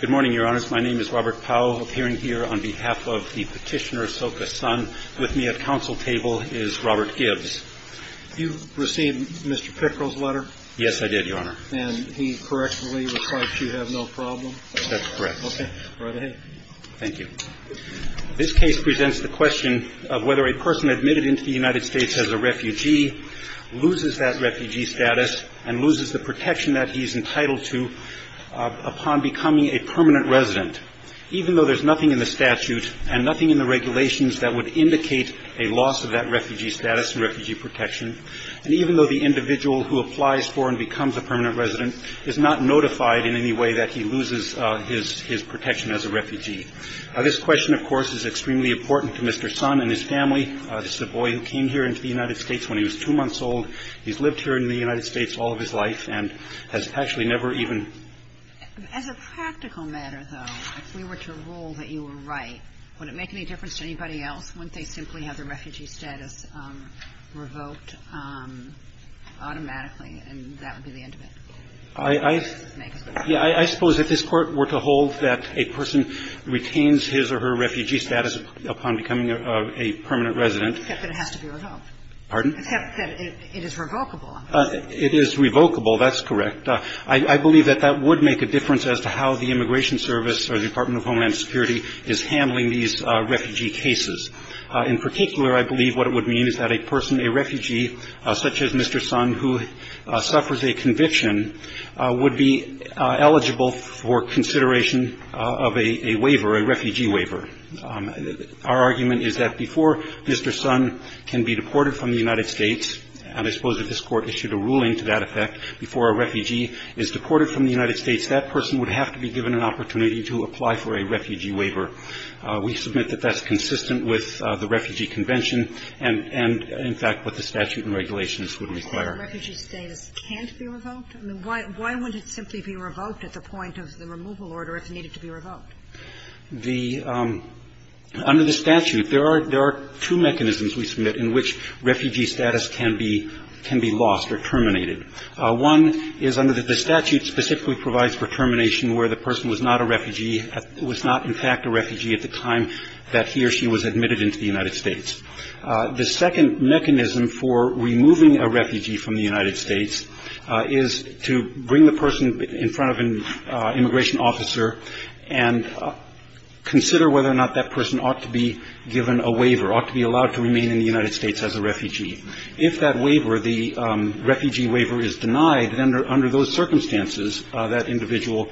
Good morning, Your Honors. My name is Robert Powell, appearing here on behalf of the petitioner Soka Sun. With me at counsel table is Robert Gibbs. You received Mr. Pickrell's letter? Yes, I did, Your Honor. And he correctly replied that you have no problem? That's correct. Okay. Right ahead. Thank you. This case presents the question of whether a person admitted into the United States as a refugee loses that refugee status and loses the protection that he's entitled to upon becoming a permanent resident, even though there's nothing in the statute and nothing in the regulations that would indicate a loss of that refugee status and refugee protection, and even though the individual who applies for and becomes a permanent resident is not notified in any way that he loses his protection as a refugee. This question, of course, is extremely important to Mr. Sun and his family. This is a boy who came here into the United States when he was two months old. He's lived here in the United States all of his life and has actually never even been As a practical matter, though, if we were to rule that you were right, would it make any difference to anybody else wouldn't they simply have their refugee status revoked automatically and that would be the end of it? I suppose if this Court were to hold that a person retains his or her refugee status upon becoming a permanent resident. Except that it has to be revoked. Pardon? Except that it is revocable. It is revocable. That's correct. I believe that that would make a difference as to how the Immigration Service or the Department of Homeland Security is handling these refugee cases. In particular, I believe what it would mean is that a person, a refugee, such as Mr. Sun, who suffers a conviction, would be eligible for consideration of a waiver, a refugee waiver. Our argument is that before Mr. Sun can be deported from the United States, and I suppose if this Court issued a ruling to that effect, before a refugee is deported from the United States, that person would have to be given an opportunity to apply for a refugee waiver. We submit that that's consistent with the Refugee Convention and, in fact, what the statute and regulations would require. Refugee status can't be revoked? I mean, why wouldn't it simply be revoked at the point of the removal order if it needed to be revoked? The under the statute, there are two mechanisms we submit in which refugee status can be lost or terminated. One is under the statute specifically provides for termination where the person was not a refugee, was not, in fact, a refugee at the time that he or she was admitted into the United States. The second mechanism for removing a refugee from the United States is to bring the person in front of an immigration officer and consider whether or not that person ought to be given a waiver, ought to be allowed to remain in the United States as a refugee. If that waiver, the refugee waiver, is denied, then under those circumstances, that individual,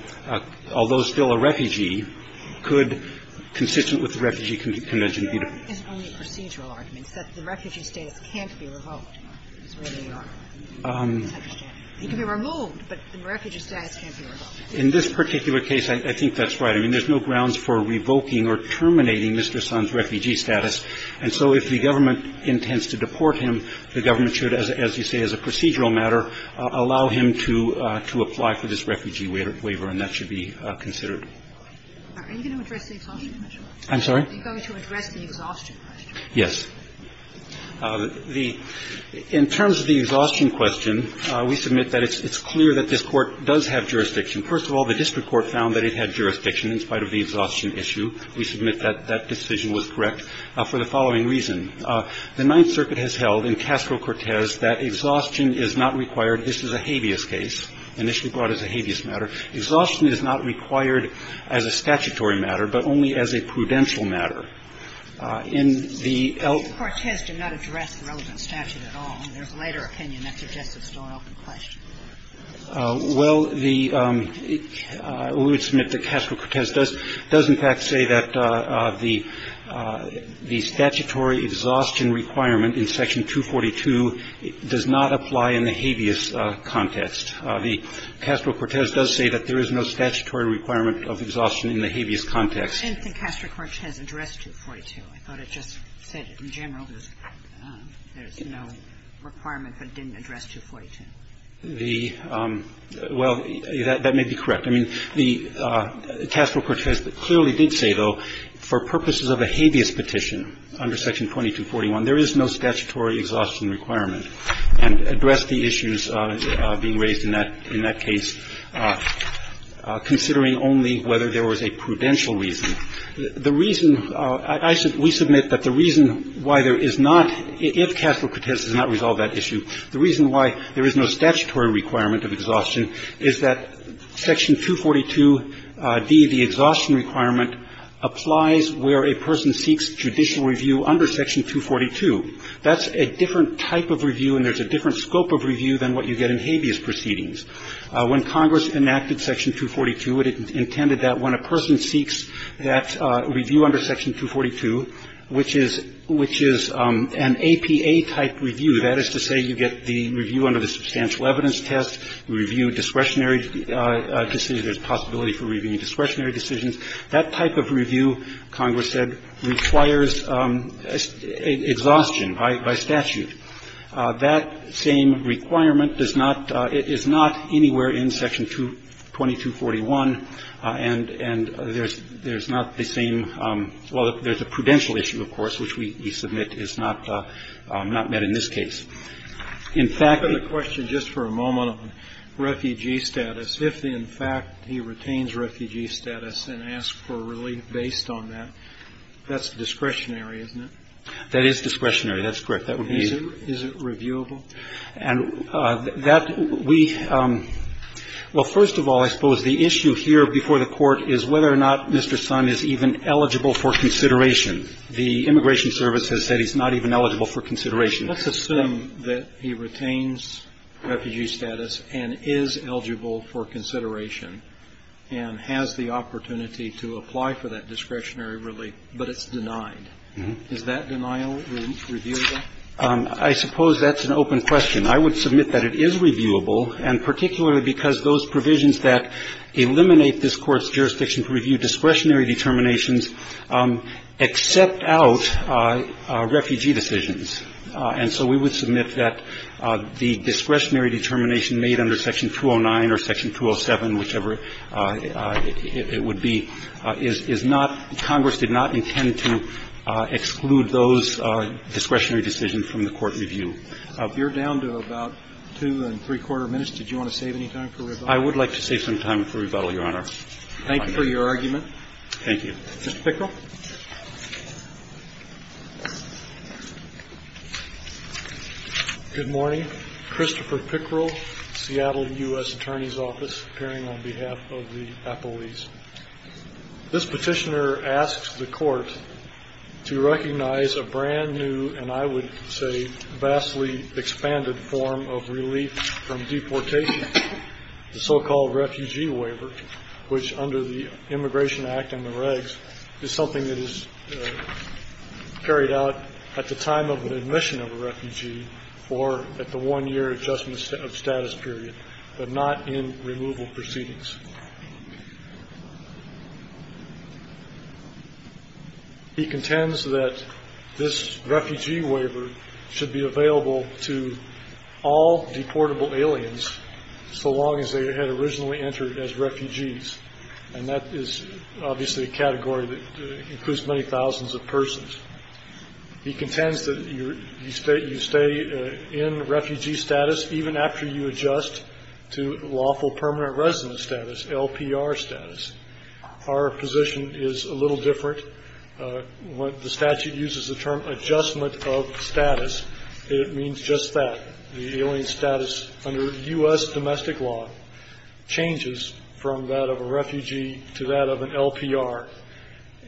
although still a refugee, could, consistent with the Refugee Convention, be deported. And that is only a procedural argument, that the refugee status can't be revoked is where they are. It can be removed, but the refugee status can't be revoked. In this particular case, I think that's right. I mean, there's no grounds for revoking or terminating Mr. Sun's refugee status. And so if the government intends to deport him, the government should, as you say, as a procedural matter, allow him to apply for this refugee waiver, and that should be considered. Are you going to address the exhaustion measure? I'm sorry? Are you going to address the exhaustion question? Yes. The – in terms of the exhaustion question, we submit that it's clear that this Court does have jurisdiction. First of all, the district court found that it had jurisdiction in spite of the exhaustion issue. We submit that that decision was correct for the following reason. The Ninth Circuit has held in Castro-Cortez that exhaustion is not required – this is a habeas case, initially brought as a habeas matter – exhaustion is not required as a statutory matter, but only as a prudential matter. In the el– But Castro-Cortez did not address the relevant statute at all. In their later opinion, that's just a stoic question. Well, the – we would submit that Castro-Cortez does in fact say that the statutory exhaustion requirement in Section 242 does not apply in the habeas context. The Castro-Cortez does say that there is no statutory requirement of exhaustion in the habeas context. I didn't think Castro-Cortez addressed 242. I thought it just said in general there's no requirement but didn't address 242. The – well, that may be correct. I mean, the Castro-Cortez clearly did say, though, for purposes of a habeas petition under Section 2241, there is no statutory exhaustion requirement, and addressed the issues being raised in that – in that case, considering only whether there was a prudential reason. The reason – I – we submit that the reason why there is not – if Castro-Cortez does not resolve that issue, the reason why there is no statutory requirement of exhaustion is that Section 242d, the exhaustion requirement, applies where a person seeks judicial review under Section 242. That's a different type of review and there's a different scope of review than what you get in habeas proceedings. When Congress enacted Section 242, it intended that when a person seeks that review under Section 242, which is – which is an APA-type review, that is to say you get the review under the substantial evidence test, review discretionary decisions, there's possibility for reviewing discretionary decisions, that type of review, Congress said, requires exhaustion by – by statute. That same requirement does not – is not anywhere in Section 2241, and – and there's not the same – well, there's a prudential issue, of course, which we submit is not met in this case. In fact, the question just for a moment on refugee status, if in fact he retains refugee status and asks for relief based on that, that's discretionary, isn't it? That is discretionary. That's correct. That would be the – Is it – is it reviewable? And that we – well, first of all, I suppose the issue here before the Court is whether or not Mr. Son is even eligible for consideration. The Immigration Service has said he's not even eligible for consideration. Let's assume that he retains refugee status and is eligible for consideration and has the opportunity to apply for that discretionary relief, but it's denied. Is that denial reviewable? I suppose that's an open question. I would submit that it is reviewable, and particularly because those provisions that eliminate this Court's jurisdiction to review discretionary determinations accept out refugee decisions. And so we would submit that the discretionary determination made under Section 209 or Section 207, whichever it would be, is not – Congress did not intend to exclude those discretionary decisions from the court review. If you're down to about two and three-quarter minutes, did you want to save any time for rebuttal? I would like to save some time for rebuttal, Your Honor. Thank you for your argument. Thank you. Mr. Pickrell. Good morning. Christopher Pickrell, Seattle U.S. Attorney's Office, appearing on behalf of the appellees. This Petitioner asks the Court to recognize a brand-new and I would say vastly expanded form of relief from deportation, the so-called refugee waiver, which under the Immigration Act and the regs is something that is carried out at the time of admission of a refugee or at the one-year adjustment of status period, but not in removal proceedings. He contends that this refugee waiver should be available to all deportable aliens so long as they had originally entered as refugees, and that is obviously a category that includes many thousands of persons. He contends that you stay in refugee status even after you adjust to lawful permanent residence status, LPR status. Our position is a little different. When the statute uses the term adjustment of status, it means just that. The alien status under U.S. domestic law changes from that of a refugee to that of an LPR,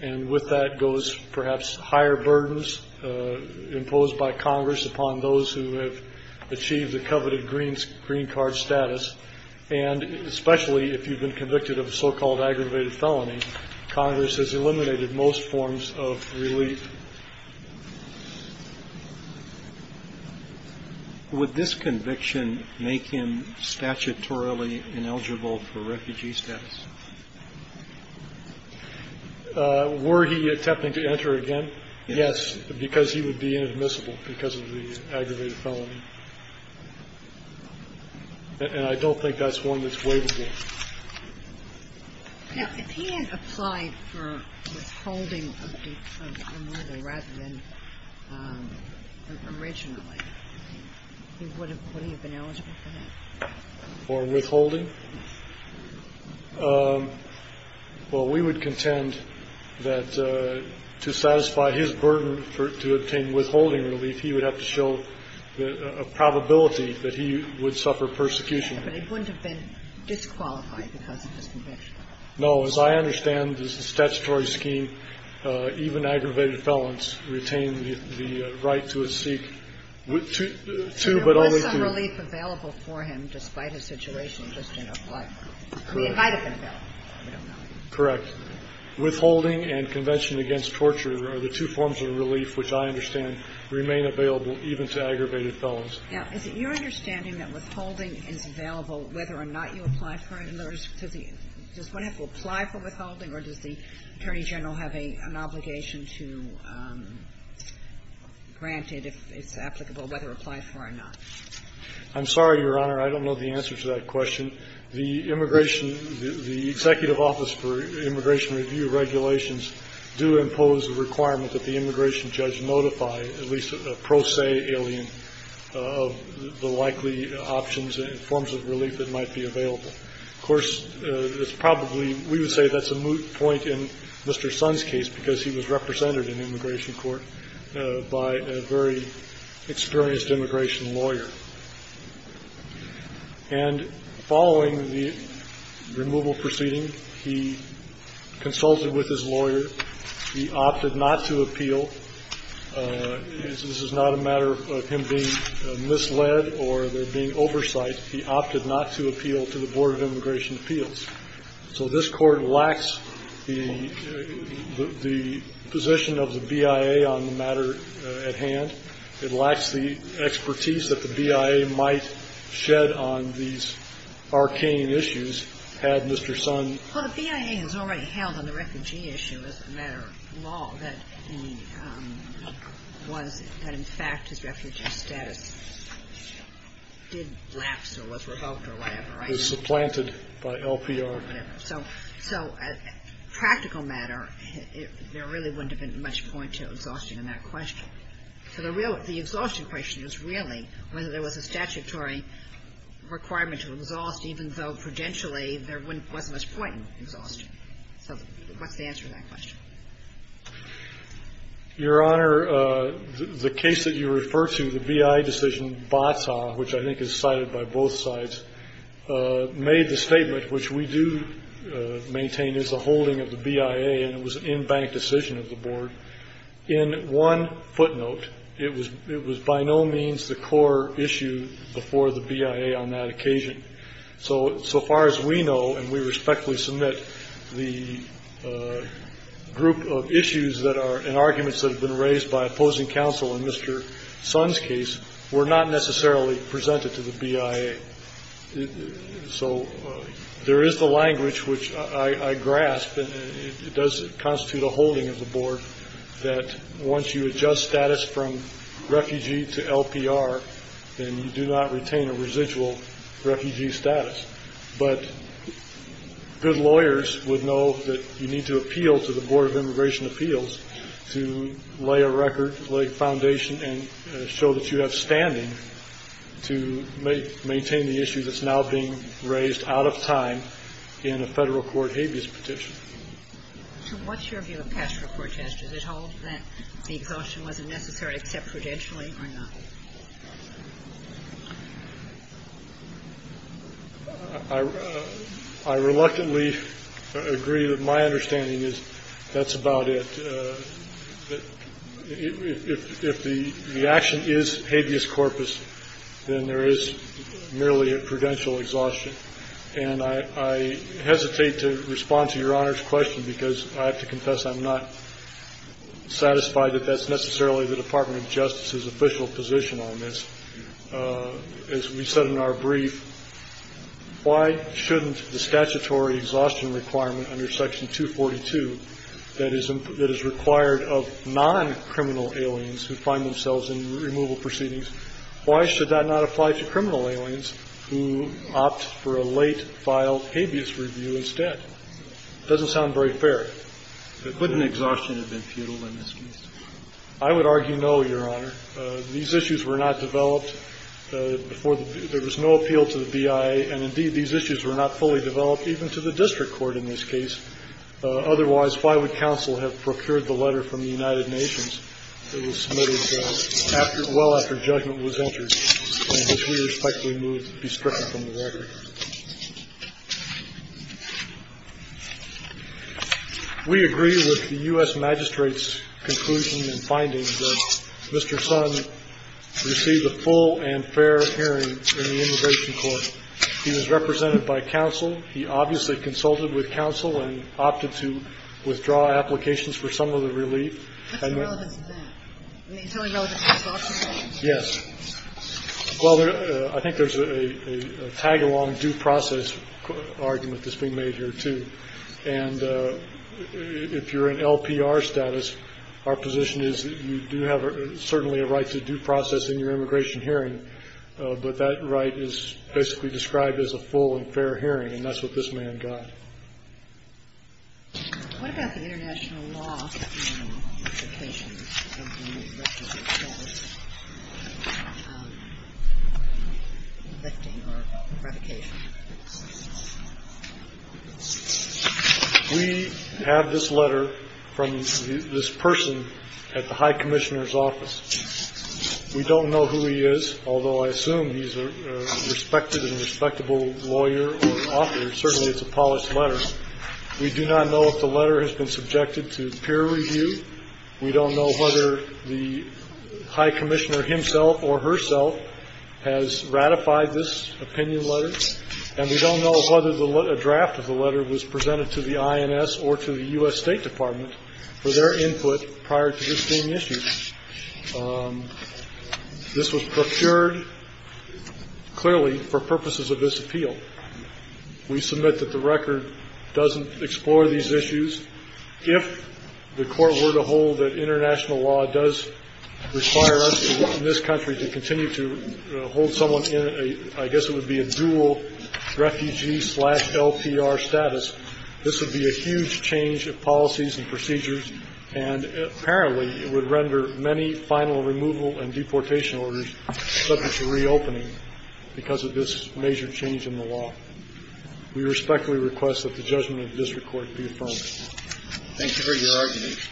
and with that goes perhaps higher burdens imposed by Congress upon those who have achieved the coveted green card status, and especially if you've been convicted of a so-called aggravated felony, Congress has eliminated most forms of relief. Would this conviction make him statutorily ineligible for refugee status? Were he attempting to enter again? Yes, because he would be inadmissible because of the aggravated felony, and I don't think he would be ineligible for that. Now, if he had applied for withholding of the murder rather than originally, would he have been eligible for that? For withholding? Well, we would contend that to satisfy his burden to obtain withholding relief, he would have to show a probability that he would suffer persecution. But he wouldn't have been disqualified because of his conviction. No. As I understand, the statutory scheme, even aggravated felons, retain the right to seek two, but only two. There was some relief available for him despite his situation just in applying. Correct. I mean, it might have been available. I don't know. Correct. Withholding and convention against torture are the two forms of relief which I understand remain available even to aggravated felons. Now, is it your understanding that withholding is available whether or not you apply for it? Does one have to apply for withholding or does the Attorney General have an obligation to grant it if it's applicable, whether it applies for it or not? I'm sorry, Your Honor. I don't know the answer to that question. The Immigration – the Executive Office for Immigration Review regulations do impose a requirement that the immigration judge notify at least a pro se alien of the likely options and forms of relief that might be available. Of course, it's probably – we would say that's a moot point in Mr. Son's case because he was represented in immigration court by a very experienced immigration lawyer. And following the removal proceeding, he consulted with his lawyer. He opted not to appeal. This is not a matter of him being misled or there being oversight. He opted not to appeal to the Board of Immigration Appeals. So this court lacks the position of the BIA on the matter at hand. It lacks the expertise that the BIA might shed on these arcane issues had Mr. Son Well, the BIA has already held on the refugee issue as a matter of law, that he was – that in fact his refugee status did lapse or was revoked or whatever, right? Was supplanted by LPR. Or whatever. So – so practical matter, there really wouldn't have been much point to exhausting in that question. So the real – the exhaustion question is really whether there was a statutory requirement to exhaust, even though prudentially there wasn't much point in exhaustion. So what's the answer to that question? Your Honor, the case that you refer to, the BIA decision, BATA, which I think is cited by both sides, made the statement, which we do maintain is the holding of the BIA and it was an in-bank decision of the Board. In one footnote, it was – it was by no means the core issue before the BIA on that occasion. So – so far as we know, and we respectfully submit, the group of issues that are – and arguments that have been raised by opposing counsel in Mr. Son's case were not necessarily presented to the BIA. So there is the language, which I grasp, and it does constitute a holding of the Board, that once you adjust status from refugee to LPR, then you do not retain a residual refugee status. But good lawyers would know that you need to appeal to the Board of Immigration Appeals to lay a record, lay foundation, and show that you have standing to maintain the issue that's now being raised out of time in a Federal court habeas petition. So what's your view of past report, Judge? Is it hold that the exhaustion wasn't necessary except prudentially or not? I – I reluctantly agree that my understanding is that's about it. If the action is habeas corpus, then there is merely a prudential exhaustion. And I hesitate to respond to Your Honor's question because I have to confess I'm not satisfied that that's necessarily the Department of Justice's official position on this. As we said in our brief, why shouldn't the statutory exhaustion requirement under Section 242 that is required of non-criminal aliens who find themselves in removal proceedings, why should that not apply to criminal aliens who opt for a late file habeas review instead? It doesn't sound very fair. But couldn't exhaustion have been futile in this case? I would argue no, Your Honor. These issues were not developed before the – there was no appeal to the BIA, and Otherwise, why would counsel have procured the letter from the United Nations that was submitted after – well after judgment was entered and, as we respect, removed – be stricken from the record? We agree with the U.S. Magistrate's conclusion and findings that Mr. Sun received a full and fair hearing in the immigration court. He was represented by counsel. He obviously consulted with counsel and opted to withdraw applications for some of the relief. And the – What's the relevance of that? I mean, it's only relevant to his office, right? Yes. Well, there – I think there's a tag-along due process argument that's being made here, too. And if you're in LPR status, our position is that you do have certainly a right to due process in your immigration hearing, but that right is basically described as a full and fair hearing. And that's what this man got. What about the international law? You know, implications of the arrest of yourself, arresting or provocation? We have this letter from this person at the high commissioner's office. We don't know who he is, although I assume he's a respected and respectable lawyer or officer. Certainly it's a polished letter. We do not know if the letter has been subjected to peer review. We don't know whether the high commissioner himself or herself has ratified this opinion letter. And we don't know whether a draft of the letter was presented to the INS or to the U.S. State Department for their input prior to this being issued. This was procured, clearly, for purposes of this appeal. We submit that the record doesn't explore these issues. If the Court were to hold that international law does require us in this country to continue to hold someone in a, I guess it would be a dual refugee-slash-LPR status, this would be a huge change of policies and procedures, and apparently it would render many final removal and deportation orders subject to reopening because of this major change in the law. We respectfully request that the judgment of the district court be affirmed. Thank you for your argument.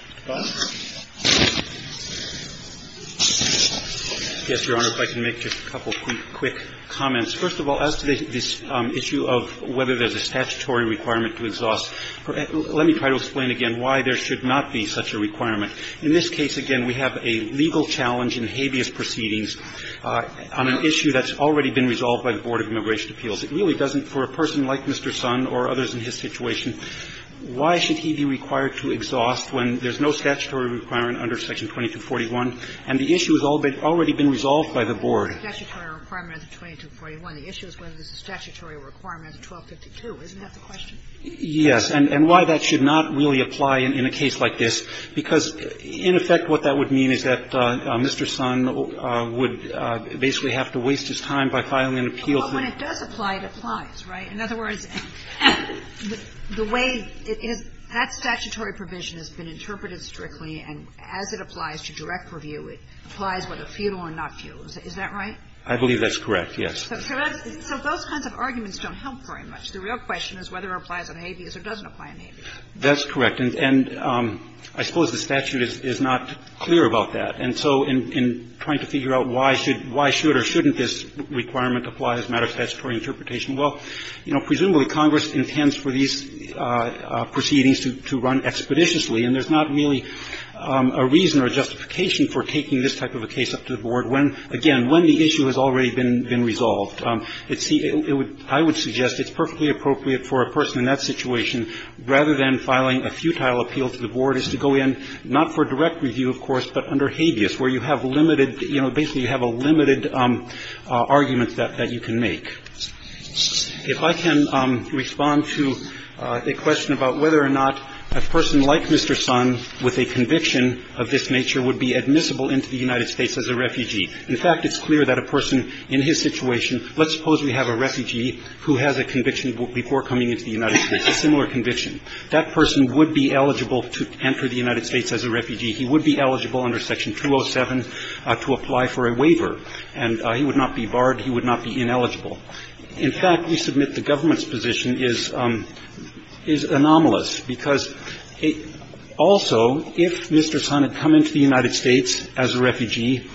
Yes, Your Honor, if I can make just a couple quick comments. First of all, as to this issue of whether there's a statutory requirement to exhaust let me try to explain again why there should not be such a requirement. In this case, again, we have a legal challenge in habeas proceedings on an issue that's already been resolved by the Board of Immigration Appeals. It really doesn't, for a person like Mr. Sonn or others in his situation, why should he be required to exhaust when there's no statutory requirement under Section 2241 and the issue has already been resolved by the Board? The issue is whether there's a statutory requirement under 1252, isn't that the question? Yes. And why that should not really apply in a case like this, because in effect what that would mean is that Mr. Sonn would basically have to waste his time by filing an appeal. But when it does apply, it applies, right? In other words, the way it is, that statutory provision has been interpreted strictly, and as it applies to direct review, it applies whether futile or not futile. Is that right? I believe that's correct, yes. So those kinds of arguments don't help very much. The real question is whether it applies on habeas or doesn't apply on habeas. That's correct. And I suppose the statute is not clear about that. And so in trying to figure out why should or shouldn't this requirement apply as a matter of statutory interpretation, well, you know, presumably Congress intends for these proceedings to run expeditiously, and there's not really a reason or a justification for taking this type of a case up to the Board when, again, when the issue has already been resolved. It's the – I would suggest it's perfectly appropriate for a person in that situation, rather than filing a futile appeal to the Board, is to go in, not for direct review, of course, but under habeas, where you have limited, you know, basically you have a limited argument that you can make. If I can respond to a question about whether or not a person like Mr. Sonn with a conviction of this nature would be admissible into the United States as a refugee. In fact, it's clear that a person in his situation – let's suppose we have a refugee who has a conviction before coming into the United States, a similar conviction. That person would be eligible to enter the United States as a refugee. He would be eligible under Section 207 to apply for a waiver. And he would not be barred. He would not be ineligible. In fact, we submit the government's position is – is anomalous, because also if Mr. Sonn had come into the United States as a refugee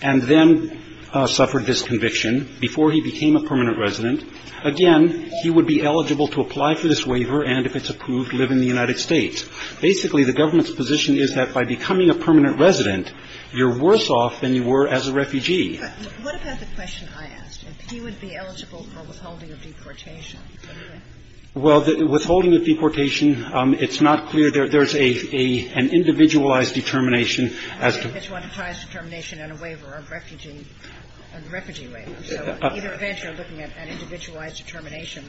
and then suffered this conviction before he became a permanent resident, again, he would be eligible to apply for this waiver and, if it's approved, live in the United States. Basically, the government's position is that by becoming a permanent resident, you're worse off than you were as a refugee. What about the question I asked? If he would be eligible for withholding of deportation? Well, withholding of deportation, it's not clear. There's a – an individualized determination as to – I think it's one that ties determination and a waiver, a refugee waiver. So either event, you're looking at an individualized determination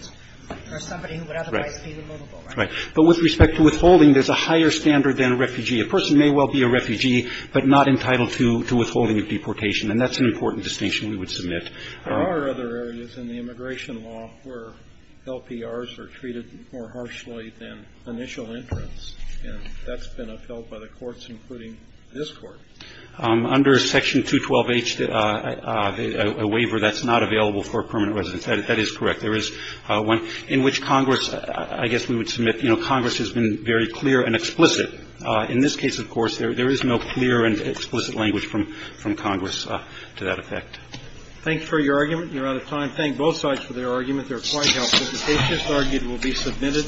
for somebody who would otherwise be eligible, right? Right. But with respect to withholding, there's a higher standard than a refugee. A person may well be a refugee, but not entitled to withholding of deportation. And that's an important distinction we would submit. There are other areas in the immigration law where LPRs are treated more harshly than initial entrants, and that's been upheld by the courts, including this Court. Under Section 212H, a waiver that's not available for permanent residence. That is correct. There is one in which Congress – I guess we would submit, you know, Congress has been very clear and explicit. In this case, of course, there is no clear and explicit language from Congress to that effect. Thank you for your argument. You're out of time. Thank both sides for their argument. They're quite helpful. The case just argued will be submitted.